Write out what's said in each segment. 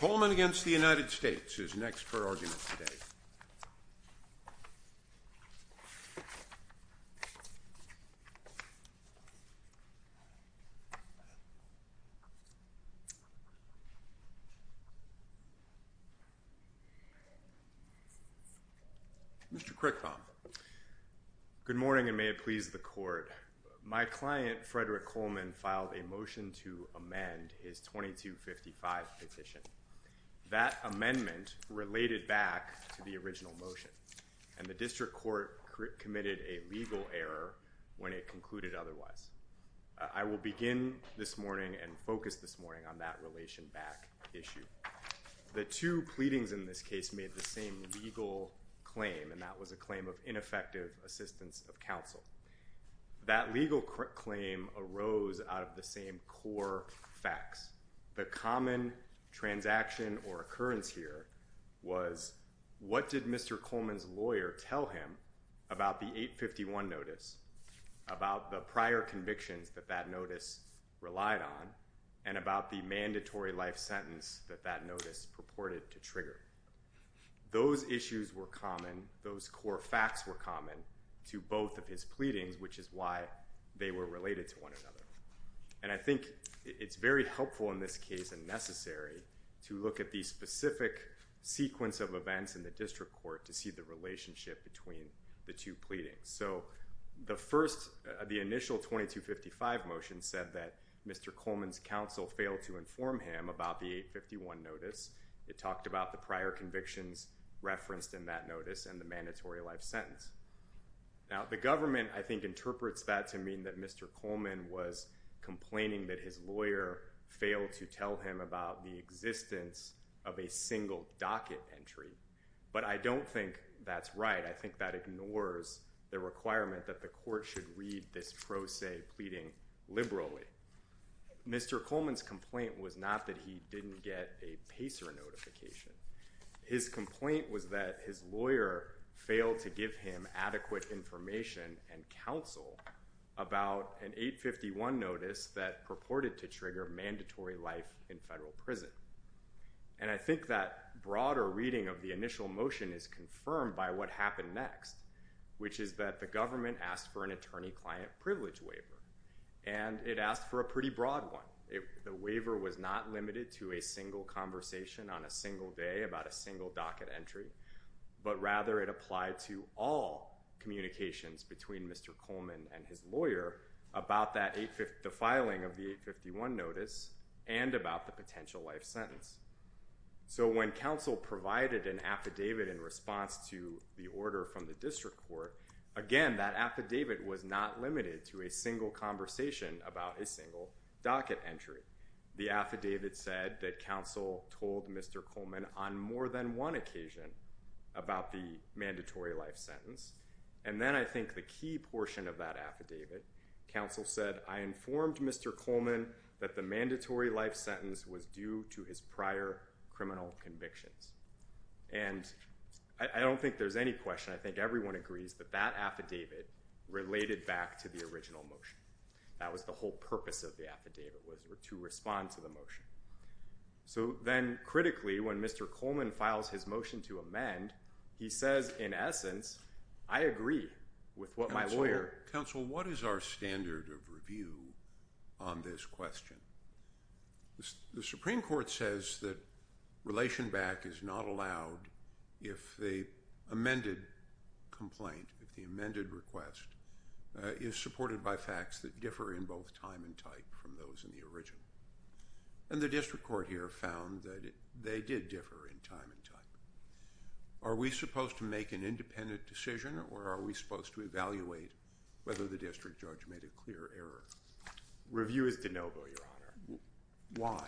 Coleman v. United States is next for argument today. Mr. Crickham. Good morning, and may it please the court. My client, Frederick Coleman, filed a motion to amend his 2255 petition. That amendment related back to the original motion, and the district court committed a legal error when it concluded otherwise. I will begin this morning and focus this morning on that relation back issue. The two pleadings in this case made the same legal claim, and that was a claim of ineffective assistance of counsel. That legal claim arose out of the same core facts. The common transaction or occurrence here was what did Mr. Coleman's lawyer tell him about the 851 notice, about the prior convictions that that notice relied on, and about the mandatory life sentence that that notice purported to trigger. Those issues were common. Those core facts were common to both of his pleadings, which is why they were related to one another. I think it's very helpful in this case and necessary to look at the specific sequence of events in the district court to see the relationship between the two pleadings. The initial 2255 motion said that Mr. Coleman's counsel failed to inform him about the 851 notice. It talked about the prior convictions referenced in that notice and the mandatory life sentence. Now, the government, I think, interprets that to mean that Mr. Coleman was complaining that his lawyer failed to tell him about the existence of a single docket entry, but I don't think that's right. I think that ignores the requirement that the court should read this pro se pleading liberally. Mr. Coleman's complaint was not that he didn't get a PACER notification. His complaint was that his lawyer failed to give him adequate information and counsel about an 851 notice that purported to trigger mandatory life in federal prison. And I think that broader reading of the initial motion is confirmed by what happened next, which is that the government asked for an attorney-client privilege waiver, and it asked for a pretty broad one. The waiver was not limited to a single conversation on a single day about a single docket entry, but rather it applied to all communications between Mr. Coleman and his lawyer about the filing of the 851 notice and about the potential life sentence. So when counsel provided an affidavit in response to the order from the district court, again, that affidavit was not limited to a single conversation about a single docket entry. The affidavit said that counsel told Mr. Coleman on more than one occasion about the mandatory life sentence, and then I think the key portion of that affidavit, counsel said, I informed Mr. Coleman that the mandatory life sentence was due to his prior criminal convictions. And I don't think there's any question. I think everyone agrees that that affidavit related back to the original motion. That was the whole purpose of the affidavit was to respond to the motion. So then critically, when Mr. Coleman files his motion to amend, he says, in essence, I agree with what my lawyer. Counsel, what is our standard of review on this question? The Supreme Court says that relation back is not allowed if the amended complaint, if the amended request is supported by facts that differ in both time and type from those in the original. And the district court here found that they did differ in time and type. Are we supposed to make an independent decision, or are we supposed to evaluate whether the district judge made a clear error? Review is de novo, Your Honor. Why?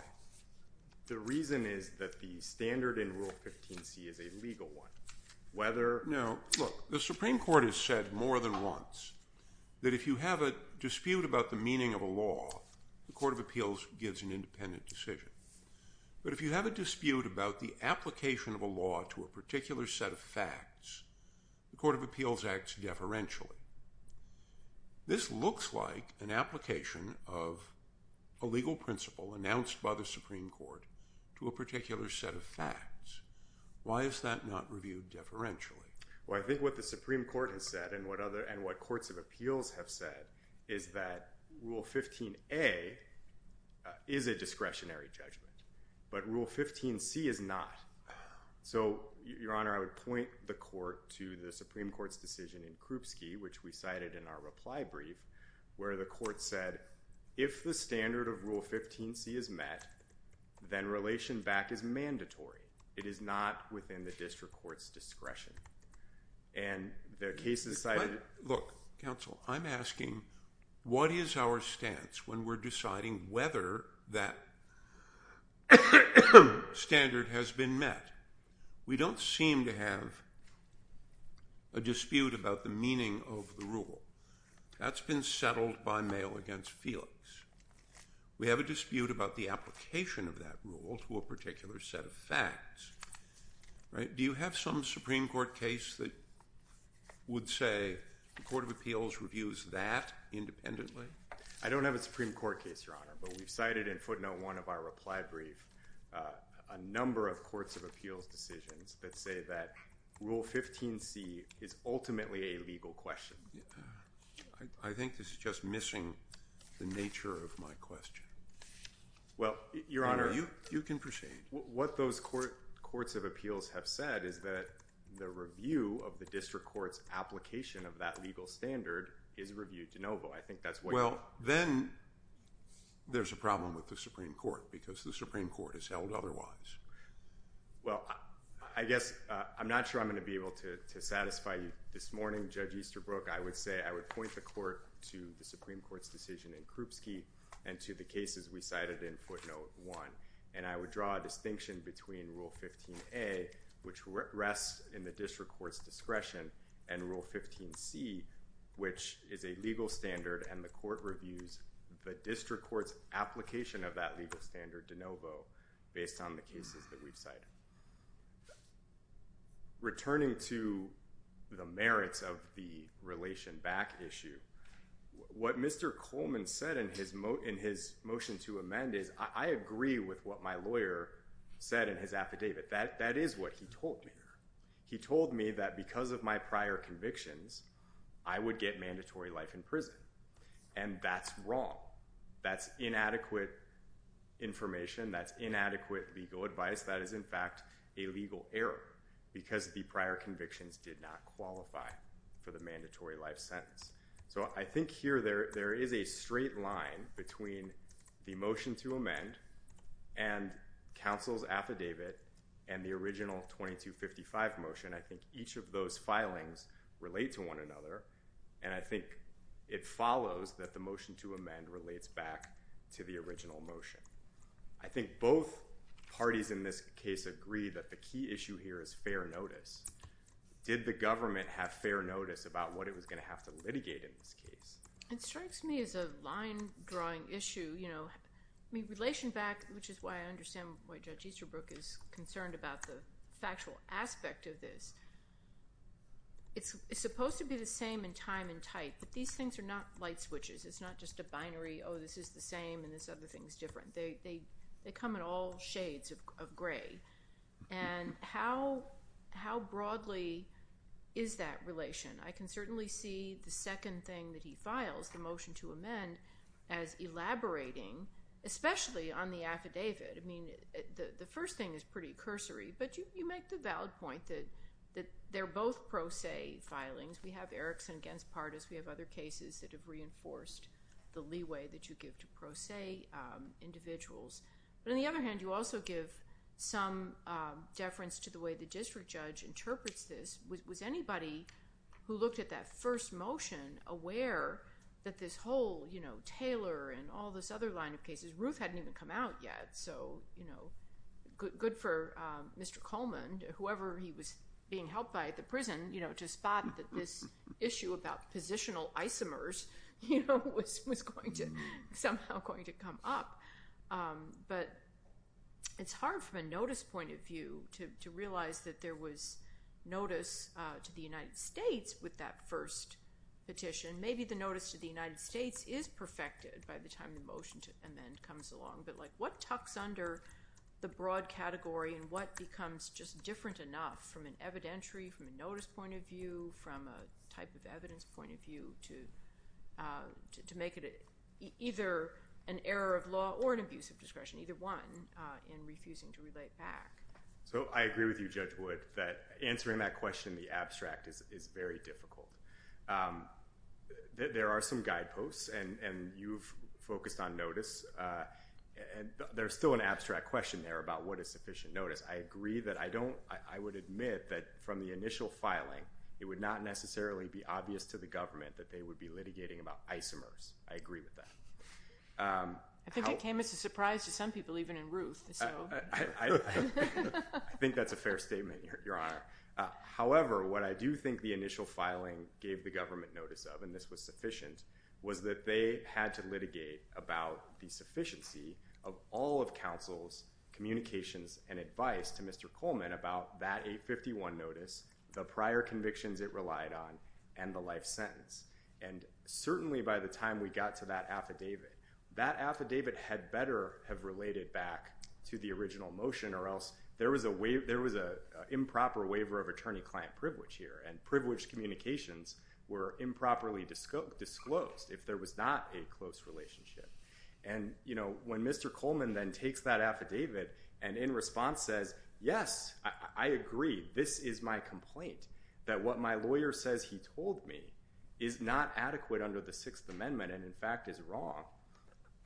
The reason is that the standard in Rule 15c is a legal one. No, look, the Supreme Court has said more than once that if you have a dispute about the meaning of a law, the Court of Appeals gives an independent decision. But if you have a dispute about the application of a law to a particular set of facts, the Court of Appeals acts deferentially. This looks like an application of a legal principle announced by the Supreme Court to a particular set of facts. Why is that not reviewed deferentially? Well, I think what the Supreme Court has said and what courts of appeals have said is that Rule 15a is a discretionary judgment, but Rule 15c is not. So, Your Honor, I would point the court to the Supreme Court's decision in Krupski, which we cited in our reply brief, where the court said, if the standard of Rule 15c is met, then relation back is mandatory. It is not within the district court's discretion. And the case is cited. Look, counsel, I'm asking, what is our stance when we're deciding whether that standard has been met? We don't seem to have a dispute about the meaning of the rule. That's been settled by mail against Felix. We have a dispute about the application of that rule to a particular set of facts. Do you have some Supreme Court case that would say the Court of Appeals reviews that independently? I don't have a Supreme Court case, Your Honor, but we've cited in footnote one of our reply brief a number of courts of appeals decisions that say that Rule 15c is ultimately a legal question. I think this is just missing the nature of my question. Well, Your Honor— You can proceed. What those courts of appeals have said is that the review of the district court's application of that legal standard is reviewed de novo. I think that's what— Well, then there's a problem with the Supreme Court because the Supreme Court has held otherwise. Well, I guess I'm not sure I'm going to be able to satisfy you this morning, Judge Easterbrook. I would say I would point the court to the Supreme Court's decision in Krupski and to the cases we cited in footnote one, and I would draw a distinction between Rule 15a, which rests in the district court's discretion, and Rule 15c, which is a legal standard and the court reviews the district court's application of that legal standard de novo based on the cases that we've cited. Returning to the merits of the relation back issue, what Mr. Coleman said in his motion to amend is I agree with what my lawyer said in his affidavit. That is what he told me. He told me that because of my prior convictions, I would get mandatory life in prison, and that's wrong. That's inadequate information. That's inadequate legal advice. That is, in fact, a legal error because the prior convictions did not qualify for the mandatory life sentence. So I think here there is a straight line between the motion to amend and counsel's affidavit and the original 2255 motion. I think each of those filings relate to one another, and I think it follows that the motion to amend relates back to the original motion. I think both parties in this case agree that the key issue here is fair notice. Did the government have fair notice about what it was going to have to litigate in this case? It strikes me as a line-drawing issue. Relation back, which is why I understand why Judge Easterbrook is concerned about the factual aspect of this. It's supposed to be the same in time and type, but these things are not light switches. It's not just a binary, oh, this is the same and this other thing is different. They come in all shades of gray. How broadly is that relation? I can certainly see the second thing that he files, the motion to amend, as elaborating, especially on the affidavit. The first thing is pretty cursory, but you make the valid point that they're both pro se filings. We have Erickson against Pardis. We have other cases that have reinforced the leeway that you give to pro se individuals. On the other hand, you also give some deference to the way the district judge interprets this. Was anybody who looked at that first motion aware that this whole Taylor and all this other line of cases, Ruth hadn't even come out yet, so good for Mr. Coleman, whoever he was being helped by at the prison, to spot that this issue about positional isomers was somehow going to come up. But it's hard from a notice point of view to realize that there was notice to the United States with that first petition. Maybe the notice to the United States is perfected by the time the motion to amend comes along, but what tucks under the broad category and what becomes just different enough from an evidentiary, from a notice point of view, from a type of evidence point of view, to make it either an error of law or an abuse of discretion, either one, in refusing to relate back? I agree with you, Judge Wood, that answering that question in the abstract is very difficult. There are some guideposts, and you've focused on notice. There's still an abstract question there about what is sufficient notice. I agree that I don't—I would admit that from the initial filing, it would not necessarily be obvious to the government that they would be litigating about isomers. I agree with that. I think it came as a surprise to some people, even in Ruth. I think that's a fair statement, Your Honor. However, what I do think the initial filing gave the government notice of, and this was sufficient, was that they had to litigate about the sufficiency of all of counsel's communications and advice to Mr. Coleman about that 851 notice, the prior convictions it relied on, and the life sentence. And certainly by the time we got to that affidavit, that affidavit had better have related back to the original motion or else there was an improper waiver of attorney-client privilege here, and privileged communications were improperly disclosed if there was not a close relationship. And, you know, when Mr. Coleman then takes that affidavit and in response says, yes, I agree, this is my complaint, that what my lawyer says he told me is not adequate under the Sixth Amendment and, in fact, is wrong,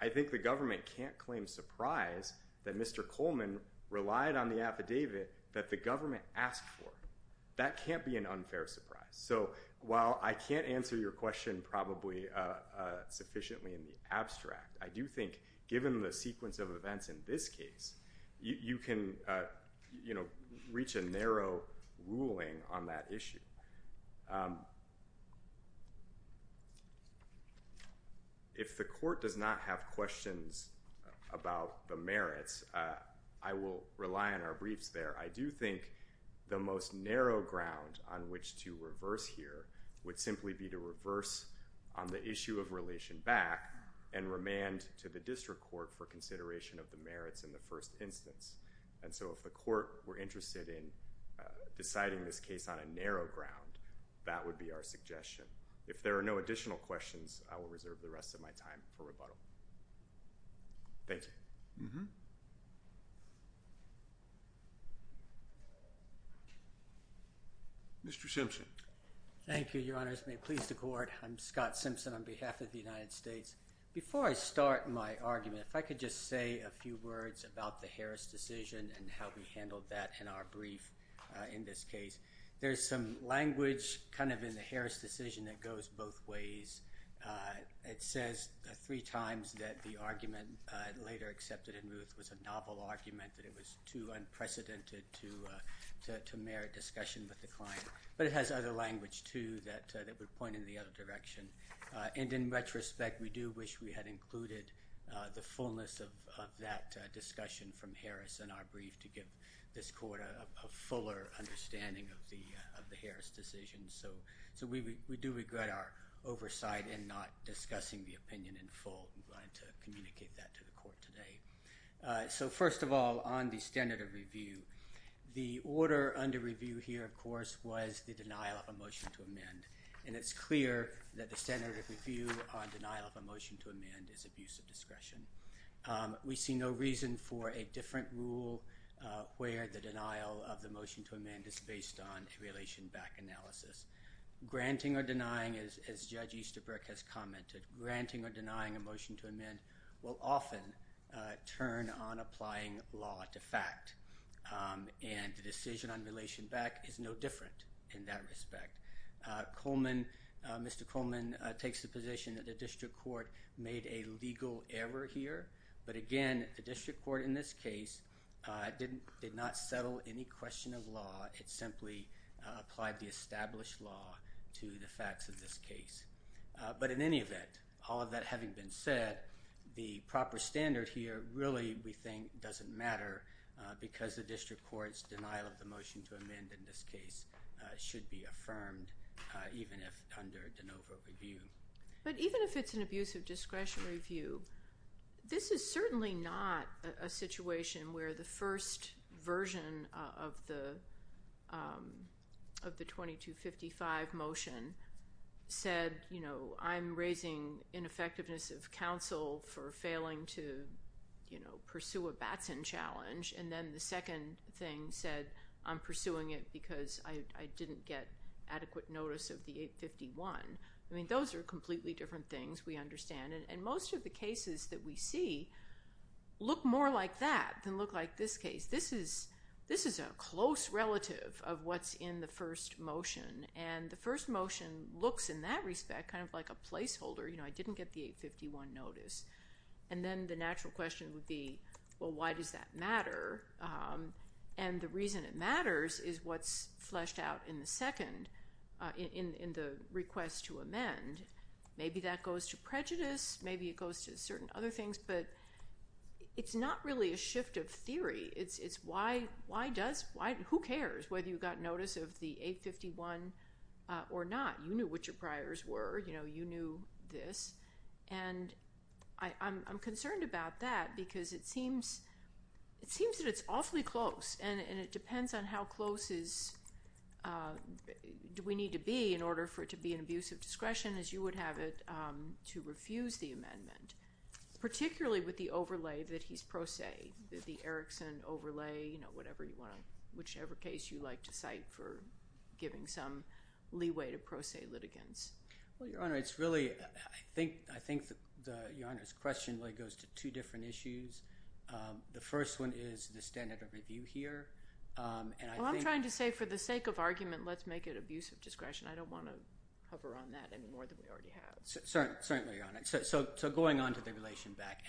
I think the government can't claim surprise that Mr. Coleman relied on the affidavit that the government asked for. That can't be an unfair surprise. So while I can't answer your question probably sufficiently in the abstract, I do think given the sequence of events in this case, you can, you know, reach a narrow ruling on that issue. If the court does not have questions about the merits, I will rely on our briefs there. I do think the most narrow ground on which to reverse here would simply be to reverse on the issue of relation back and remand to the district court for consideration of the merits in the first instance. And so if the court were interested in deciding this case on a narrow ground, that would be our suggestion. If there are no additional questions, I will reserve the rest of my time for rebuttal. Thank you. Mr. Simpson. May it please the Court. I'm Scott Simpson on behalf of the United States. Before I start my argument, if I could just say a few words about the Harris decision and how we handled that in our brief in this case. There's some language kind of in the Harris decision that goes both ways. It says three times that the argument later accepted in Ruth was a novel argument, that it was too unprecedented to merit discussion with the client. But it has other language too that would point in the other direction. And in retrospect, we do wish we had included the fullness of that discussion from Harris in our brief to give this court a fuller understanding of the Harris decision. So we do regret our oversight in not discussing the opinion in full. We wanted to communicate that to the court today. So first of all, on the standard of review, the order under review here, of course, was the denial of a motion to amend. And it's clear that the standard of review on denial of a motion to amend is abuse of discretion. We see no reason for a different rule where the denial of the motion to amend is based on a relation back analysis. Granting or denying, as Judge Easterbrook has commented, granting or denying a motion to amend will often turn on applying law to fact. And the decision on relation back is no different in that respect. Coleman, Mr. Coleman, takes the position that the district court made a legal error here. But again, the district court in this case did not settle any question of law. It simply applied the established law to the facts of this case. But in any event, all of that having been said, the proper standard here really, we think, doesn't matter because the district court's denial of the motion to amend in this case should be affirmed, even if under de novo review. But even if it's an abuse of discretion review, this is certainly not a situation where the first version of the 2255 motion said, you know, I'm raising ineffectiveness of counsel for failing to, you know, pursue a Batson challenge. And then the second thing said, I'm pursuing it because I didn't get adequate notice of the 851. I mean, those are completely different things, we understand. And most of the cases that we see look more like that than look like this case. This is a close relative of what's in the first motion. And the first motion looks in that respect kind of like a placeholder. You know, I didn't get the 851 notice. And then the natural question would be, well, why does that matter? And the reason it matters is what's fleshed out in the second, in the request to amend. And maybe that goes to prejudice. Maybe it goes to certain other things. But it's not really a shift of theory. It's why does why? Who cares whether you got notice of the 851 or not? You knew what your priors were. You know, you knew this. And I'm concerned about that because it seems that it's awfully close. And it depends on how close do we need to be in order for it to be an abuse of discretion, as you would have it to refuse the amendment, particularly with the overlay that he's pro se, the Erickson overlay, you know, whatever you want to, whichever case you like to cite for giving some leeway to pro se litigants. Well, Your Honor, it's really, I think Your Honor's question really goes to two different issues. The first one is the standard of review here. Well, I'm trying to say for the sake of argument, let's make it abuse of discretion. I don't want to hover on that any more than we already have. Certainly, Your Honor. So going on to the relation back.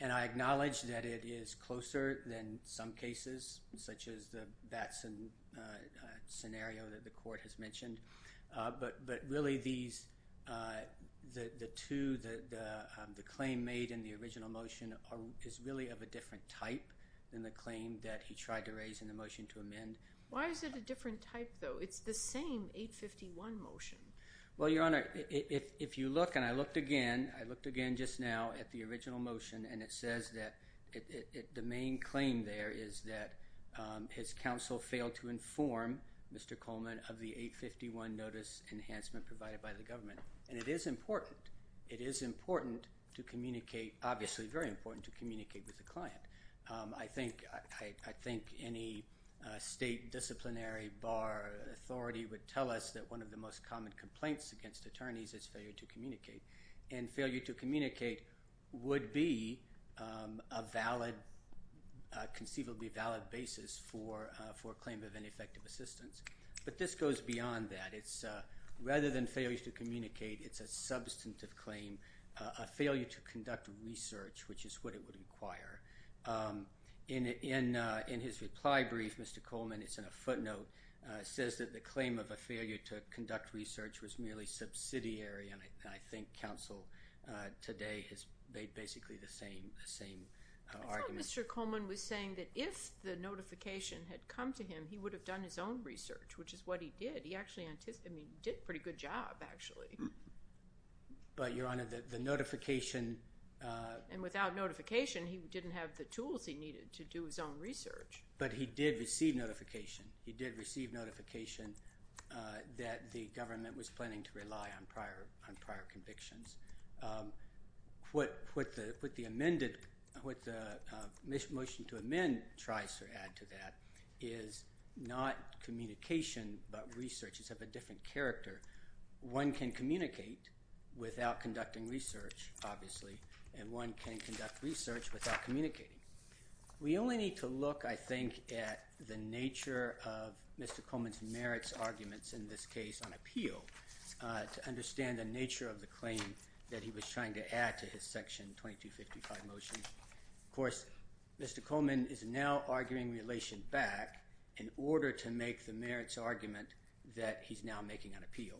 And I acknowledge that it is closer than some cases, such as the Batson scenario that the court has mentioned. But really, the claim made in the original motion is really of a different type than the claim that he tried to raise in the motion to amend. Why is it a different type, though? It's the same 851 motion. Well, Your Honor, if you look, and I looked again, I looked again just now at the original motion, and it says that the main claim there is that his counsel failed to inform Mr. Coleman of the 851 notice enhancement provided by the government. And it is important. It is important to communicate, obviously very important to communicate with the client. I think any state disciplinary bar authority would tell us that one of the most common complaints against attorneys is failure to communicate. And failure to communicate would be a valid, conceivably valid basis for a claim of ineffective assistance. But this goes beyond that. Rather than failure to communicate, it's a substantive claim, a failure to conduct research, which is what it would require. In his reply brief, Mr. Coleman, it's in a footnote, says that the claim of a failure to conduct research was merely subsidiary, and I think counsel today has made basically the same argument. I thought Mr. Coleman was saying that if the notification had come to him, he would have done his own research, which is what he did. He actually did a pretty good job, actually. But, Your Honor, the notification— And without notification, he didn't have the tools he needed to do his own research. But he did receive notification. He did receive notification that the government was planning to rely on prior convictions. What the motion to amend tries to add to that is not communication, but research. It's of a different character. One can communicate without conducting research, obviously, and one can conduct research without communicating. We only need to look, I think, at the nature of Mr. Coleman's merits arguments, in this case on appeal, to understand the nature of the claim that he was trying to add to his Section 2255 motion. Of course, Mr. Coleman is now arguing relation back in order to make the merits argument that he's now making on appeal.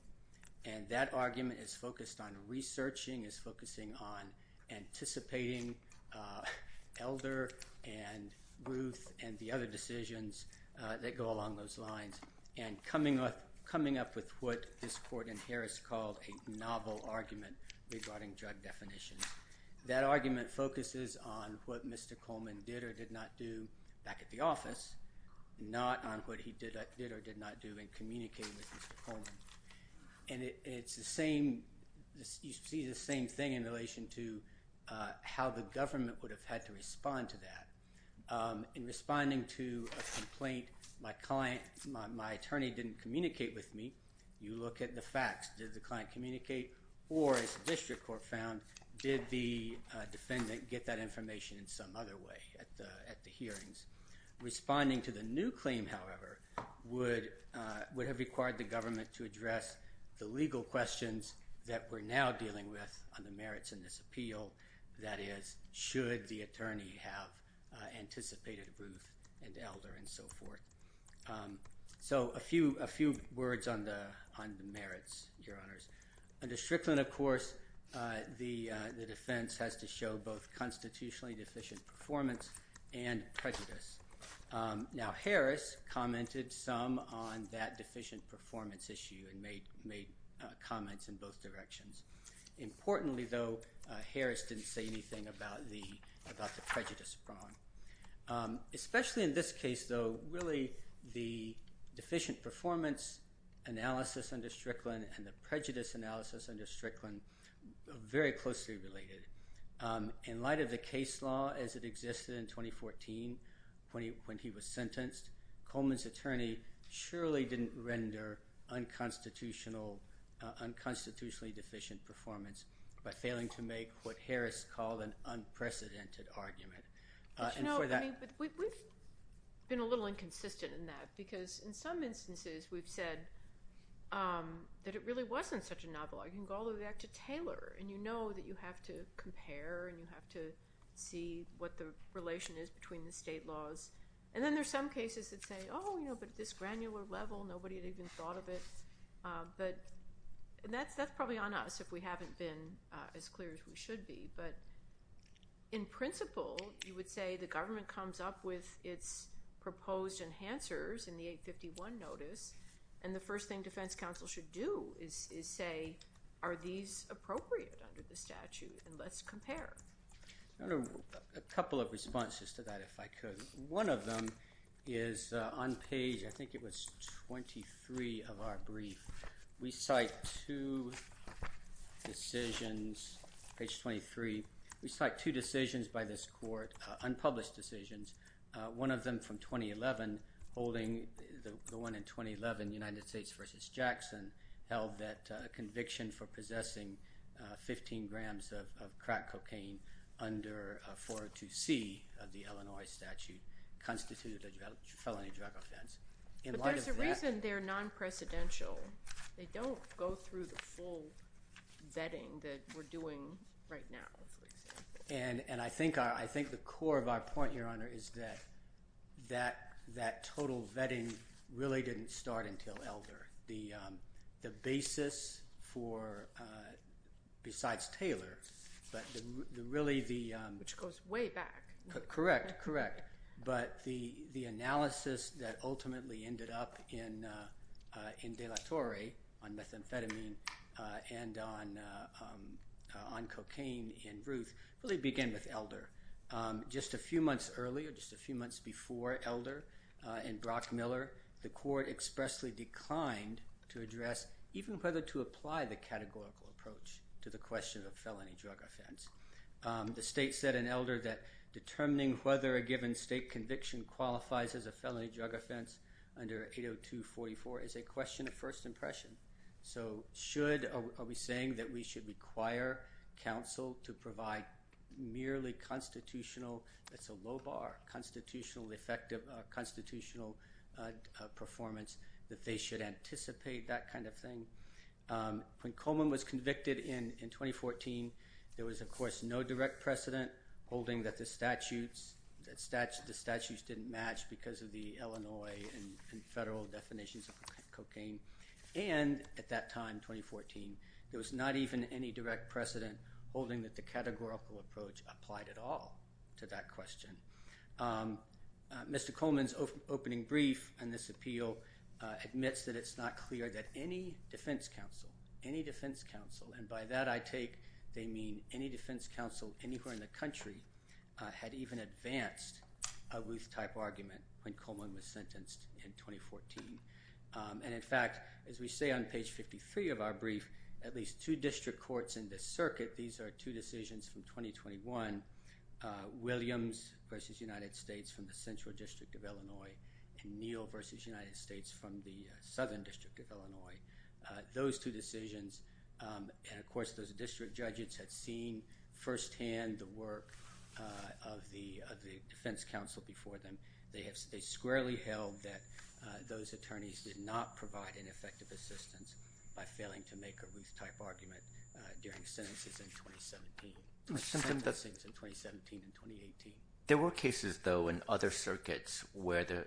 And that argument is focused on researching, is focusing on anticipating Elder and Ruth and the other decisions that go along those lines, and coming up with what this court in Harris called a novel argument regarding drug definitions. That argument focuses on what Mr. Coleman did or did not do back at the office, not on what he did or did not do in communicating with Mr. Coleman. And it's the same—you see the same thing in relation to how the government would have had to respond to that. In responding to a complaint, my client—my attorney didn't communicate with me. You look at the facts. Did the client communicate? Or, as the district court found, did the defendant get that information in some other way at the hearings? Responding to the new claim, however, would have required the government to address the legal questions that we're now dealing with on the merits in this appeal. That is, should the attorney have anticipated Ruth and Elder and so forth? So a few words on the merits, Your Honors. Under Strickland, of course, the defense has to show both constitutionally deficient performance and prejudice. Now, Harris commented some on that deficient performance issue and made comments in both directions. Importantly, though, Harris didn't say anything about the prejudice prong. Especially in this case, though, really the deficient performance analysis under Strickland and the prejudice analysis under Strickland are very closely related. In light of the case law as it existed in 2014 when he was sentenced, Coleman's attorney surely didn't render unconstitutionally deficient performance by failing to make what Harris called an unprecedented argument. We've been a little inconsistent in that because in some instances we've said that it really wasn't such a novel argument. You can go all the way back to Taylor and you know that you have to compare and you have to see what the relation is between the state laws. And then there's some cases that say, oh, but at this granular level, nobody had even thought of it. But that's probably on us if we haven't been as clear as we should be. But in principle, you would say the government comes up with its proposed enhancers in the 851 notice. And the first thing defense counsel should do is say, are these appropriate under the statute? And let's compare. A couple of responses to that, if I could. One of them is on page, I think it was 23 of our brief. We cite two decisions, page 23. We cite two decisions by this court, unpublished decisions. One of them from 2011, holding the one in 2011, United States v. Jackson, held that conviction for possessing 15 grams of crack cocaine under 402C of the Illinois statute constituted a felony drug offense. But there's a reason they're non-precedential. They don't go through the full vetting that we're doing right now, for example. And I think the core of our point, Your Honor, is that that total vetting really didn't start until Elder. The basis for, besides Taylor, but really the— Which goes way back. Correct, correct. But the analysis that ultimately ended up in De La Torre on methamphetamine and on cocaine in Ruth really began with Elder. Just a few months earlier, just a few months before Elder in Brockmiller, the court expressly declined to address even whether to apply the categorical approach to the question of felony drug offense. The state said in Elder that determining whether a given state conviction qualifies as a felony drug offense under 802.44 is a question of first impression. So should—are we saying that we should require counsel to provide merely constitutional—that's a low bar—constitutional, effective constitutional performance, that they should anticipate that kind of thing? When Coleman was convicted in 2014, there was, of course, no direct precedent holding that the statutes didn't match because of the Illinois and federal definitions of cocaine. And at that time, 2014, there was not even any direct precedent holding that the categorical approach applied at all to that question. Mr. Coleman's opening brief in this appeal admits that it's not clear that any defense counsel, any defense counsel, and by that I take they mean any defense counsel anywhere in the country, had even advanced a Ruth-type argument when Coleman was sentenced in 2014. And, in fact, as we say on page 53 of our brief, at least two district courts in this circuit—these are two decisions from 2021—Williams v. United States from the Central District of Illinois and Neal v. United States from the Southern District of Illinois—those two decisions, and, of course, those district judges had seen firsthand the work of the defense counsel before them. They squarely held that those attorneys did not provide an effective assistance by failing to make a Ruth-type argument during sentences in 2017. Sentencings in 2017 and 2018. There were cases, though, in other circuits where the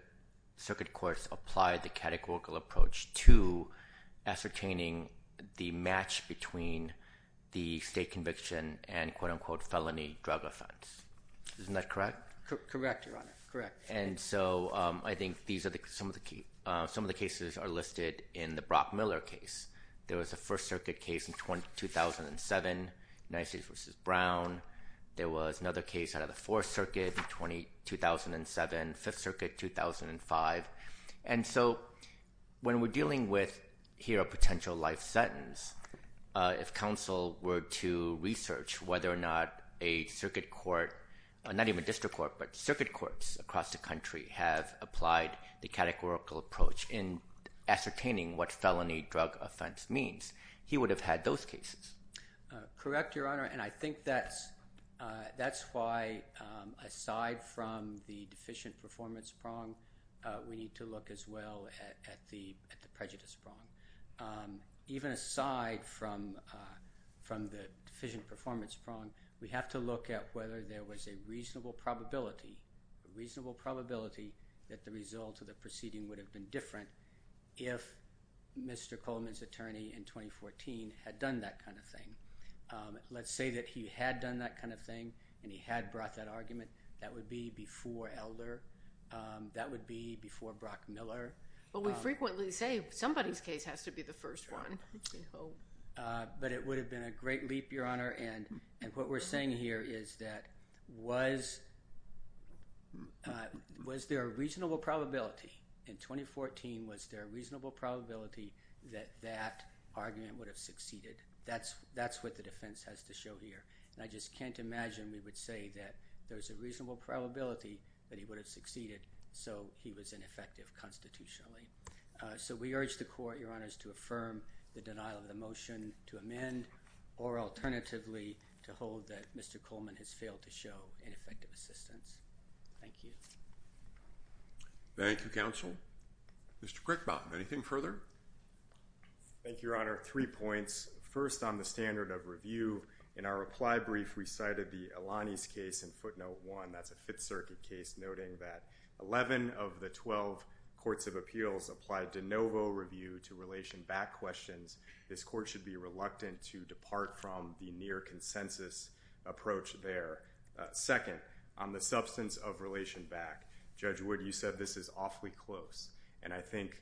circuit courts applied the categorical approach to ascertaining the match between the state conviction and quote-unquote felony drug offense. Isn't that correct? Correct, Your Honor. Correct. And so I think some of the cases are listed in the Brock-Miller case. There was a First Circuit case in 2007, United States v. Brown. There was another case out of the Fourth Circuit in 2007, Fifth Circuit, 2005. And so when we're dealing with here a potential life sentence, if counsel were to research whether or not a circuit court—not even a district court, but circuit courts across the country—have applied the categorical approach in ascertaining what felony drug offense means, he would have had those cases. Correct, Your Honor. And I think that's why, aside from the deficient performance prong, we need to look as well at the prejudice prong. Even aside from the deficient performance prong, we have to look at whether there was a reasonable probability that the result of the proceeding would have been different if Mr. Coleman's attorney in 2014 had done that kind of thing. Let's say that he had done that kind of thing and he had brought that argument, that would be before Elder. That would be before Brock-Miller. But we frequently say somebody's case has to be the first one. But it would have been a great leap, Your Honor. And what we're saying here is that was there a reasonable probability in 2014, was there a reasonable probability that that argument would have succeeded? That's what the defense has to show here. And I just can't imagine we would say that there's a reasonable probability that he would have succeeded so he was ineffective constitutionally. So we urge the court, Your Honors, to affirm the denial of the motion to amend or alternatively to hold that Mr. Coleman has failed to show ineffective assistance. Thank you. Thank you, counsel. Mr. Crickbottom, anything further? Thank you, Your Honor. Three points. First, on the standard of review, in our reply brief, we cited the Elanis case in footnote one. That's a Fifth Circuit case noting that 11 of the 12 courts of appeals applied de novo review to relation back questions. This court should be reluctant to depart from the near consensus approach there. Second, on the substance of relation back, Judge Wood, you said this is awfully close. And I think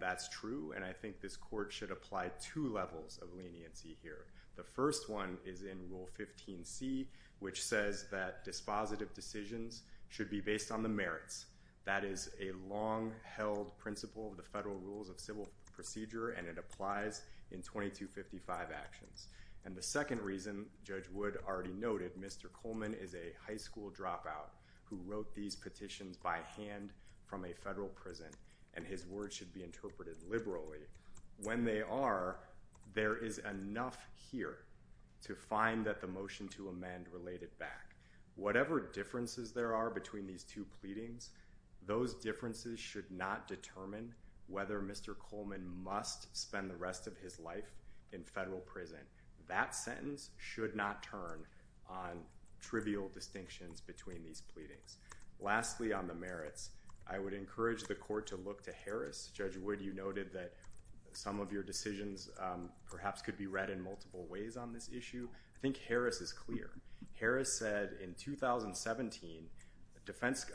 that's true. And I think this court should apply two levels of leniency here. The first one is in Rule 15C, which says that dispositive decisions should be based on the merits. That is a long-held principle of the federal rules of civil procedure, and it applies in 2255 actions. And the second reason, Judge Wood already noted, Mr. Coleman is a high school dropout who wrote these petitions by hand from a federal prison, and his words should be interpreted liberally. When they are, there is enough here to find that the motion to amend related back. Whatever differences there are between these two pleadings, those differences should not determine whether Mr. Coleman must spend the rest of his life in federal prison. That sentence should not turn on trivial distinctions between these pleadings. Lastly, on the merits, I would encourage the court to look to Harris. Judge Wood, you noted that some of your decisions perhaps could be read in multiple ways on this issue. I think Harris is clear. Harris said in 2017,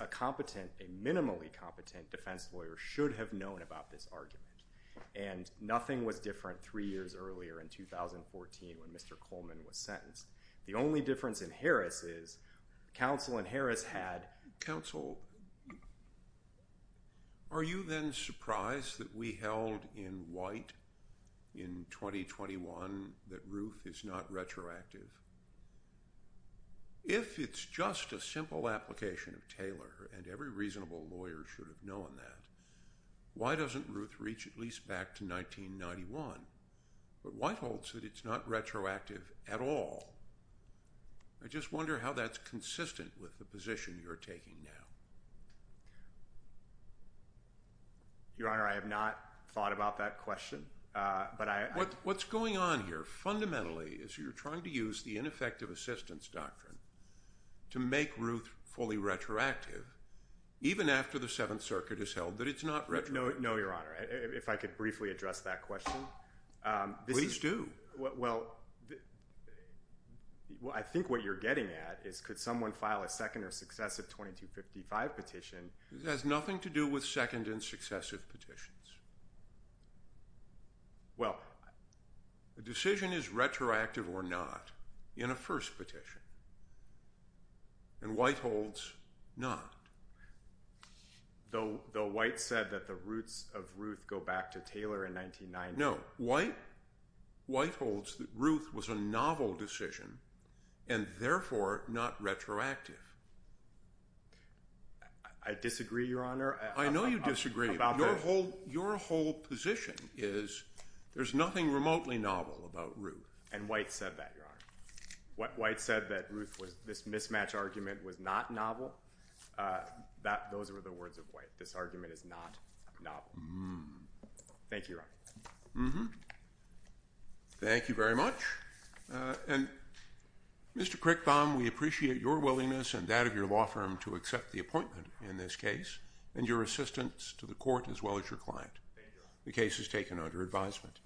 a competent, a minimally competent defense lawyer should have known about this argument. And nothing was different three years earlier in 2014 when Mr. Coleman was sentenced. The only difference in Harris is counsel in Harris had— Are you then surprised that we held in White in 2021 that Ruth is not retroactive? If it's just a simple application of Taylor, and every reasonable lawyer should have known that, why doesn't Ruth reach at least back to 1991? But White holds that it's not retroactive at all. I just wonder how that's consistent with the position you're taking now. Your Honor, I have not thought about that question. What's going on here fundamentally is you're trying to use the ineffective assistance doctrine to make Ruth fully retroactive even after the Seventh Circuit has held that it's not retroactive. No, Your Honor. If I could briefly address that question. Please do. Well, I think what you're getting at is could someone file a second or successive 2255 petition? It has nothing to do with second and successive petitions. Well, a decision is retroactive or not in a first petition, and White holds not. Though White said that the roots of Ruth go back to Taylor in 1990. No, White holds that Ruth was a novel decision and therefore not retroactive. I disagree, Your Honor. I know you disagree. Your whole position is there's nothing remotely novel about Ruth. And White said that, Your Honor. White said that this mismatch argument was not novel. Those were the words of White. This argument is not novel. Thank you, Your Honor. Thank you very much. And, Mr. Crickbaum, we appreciate your willingness and that of your law firm to accept the appointment in this case and your assistance to the court as well as your client. The case is taken under advisement.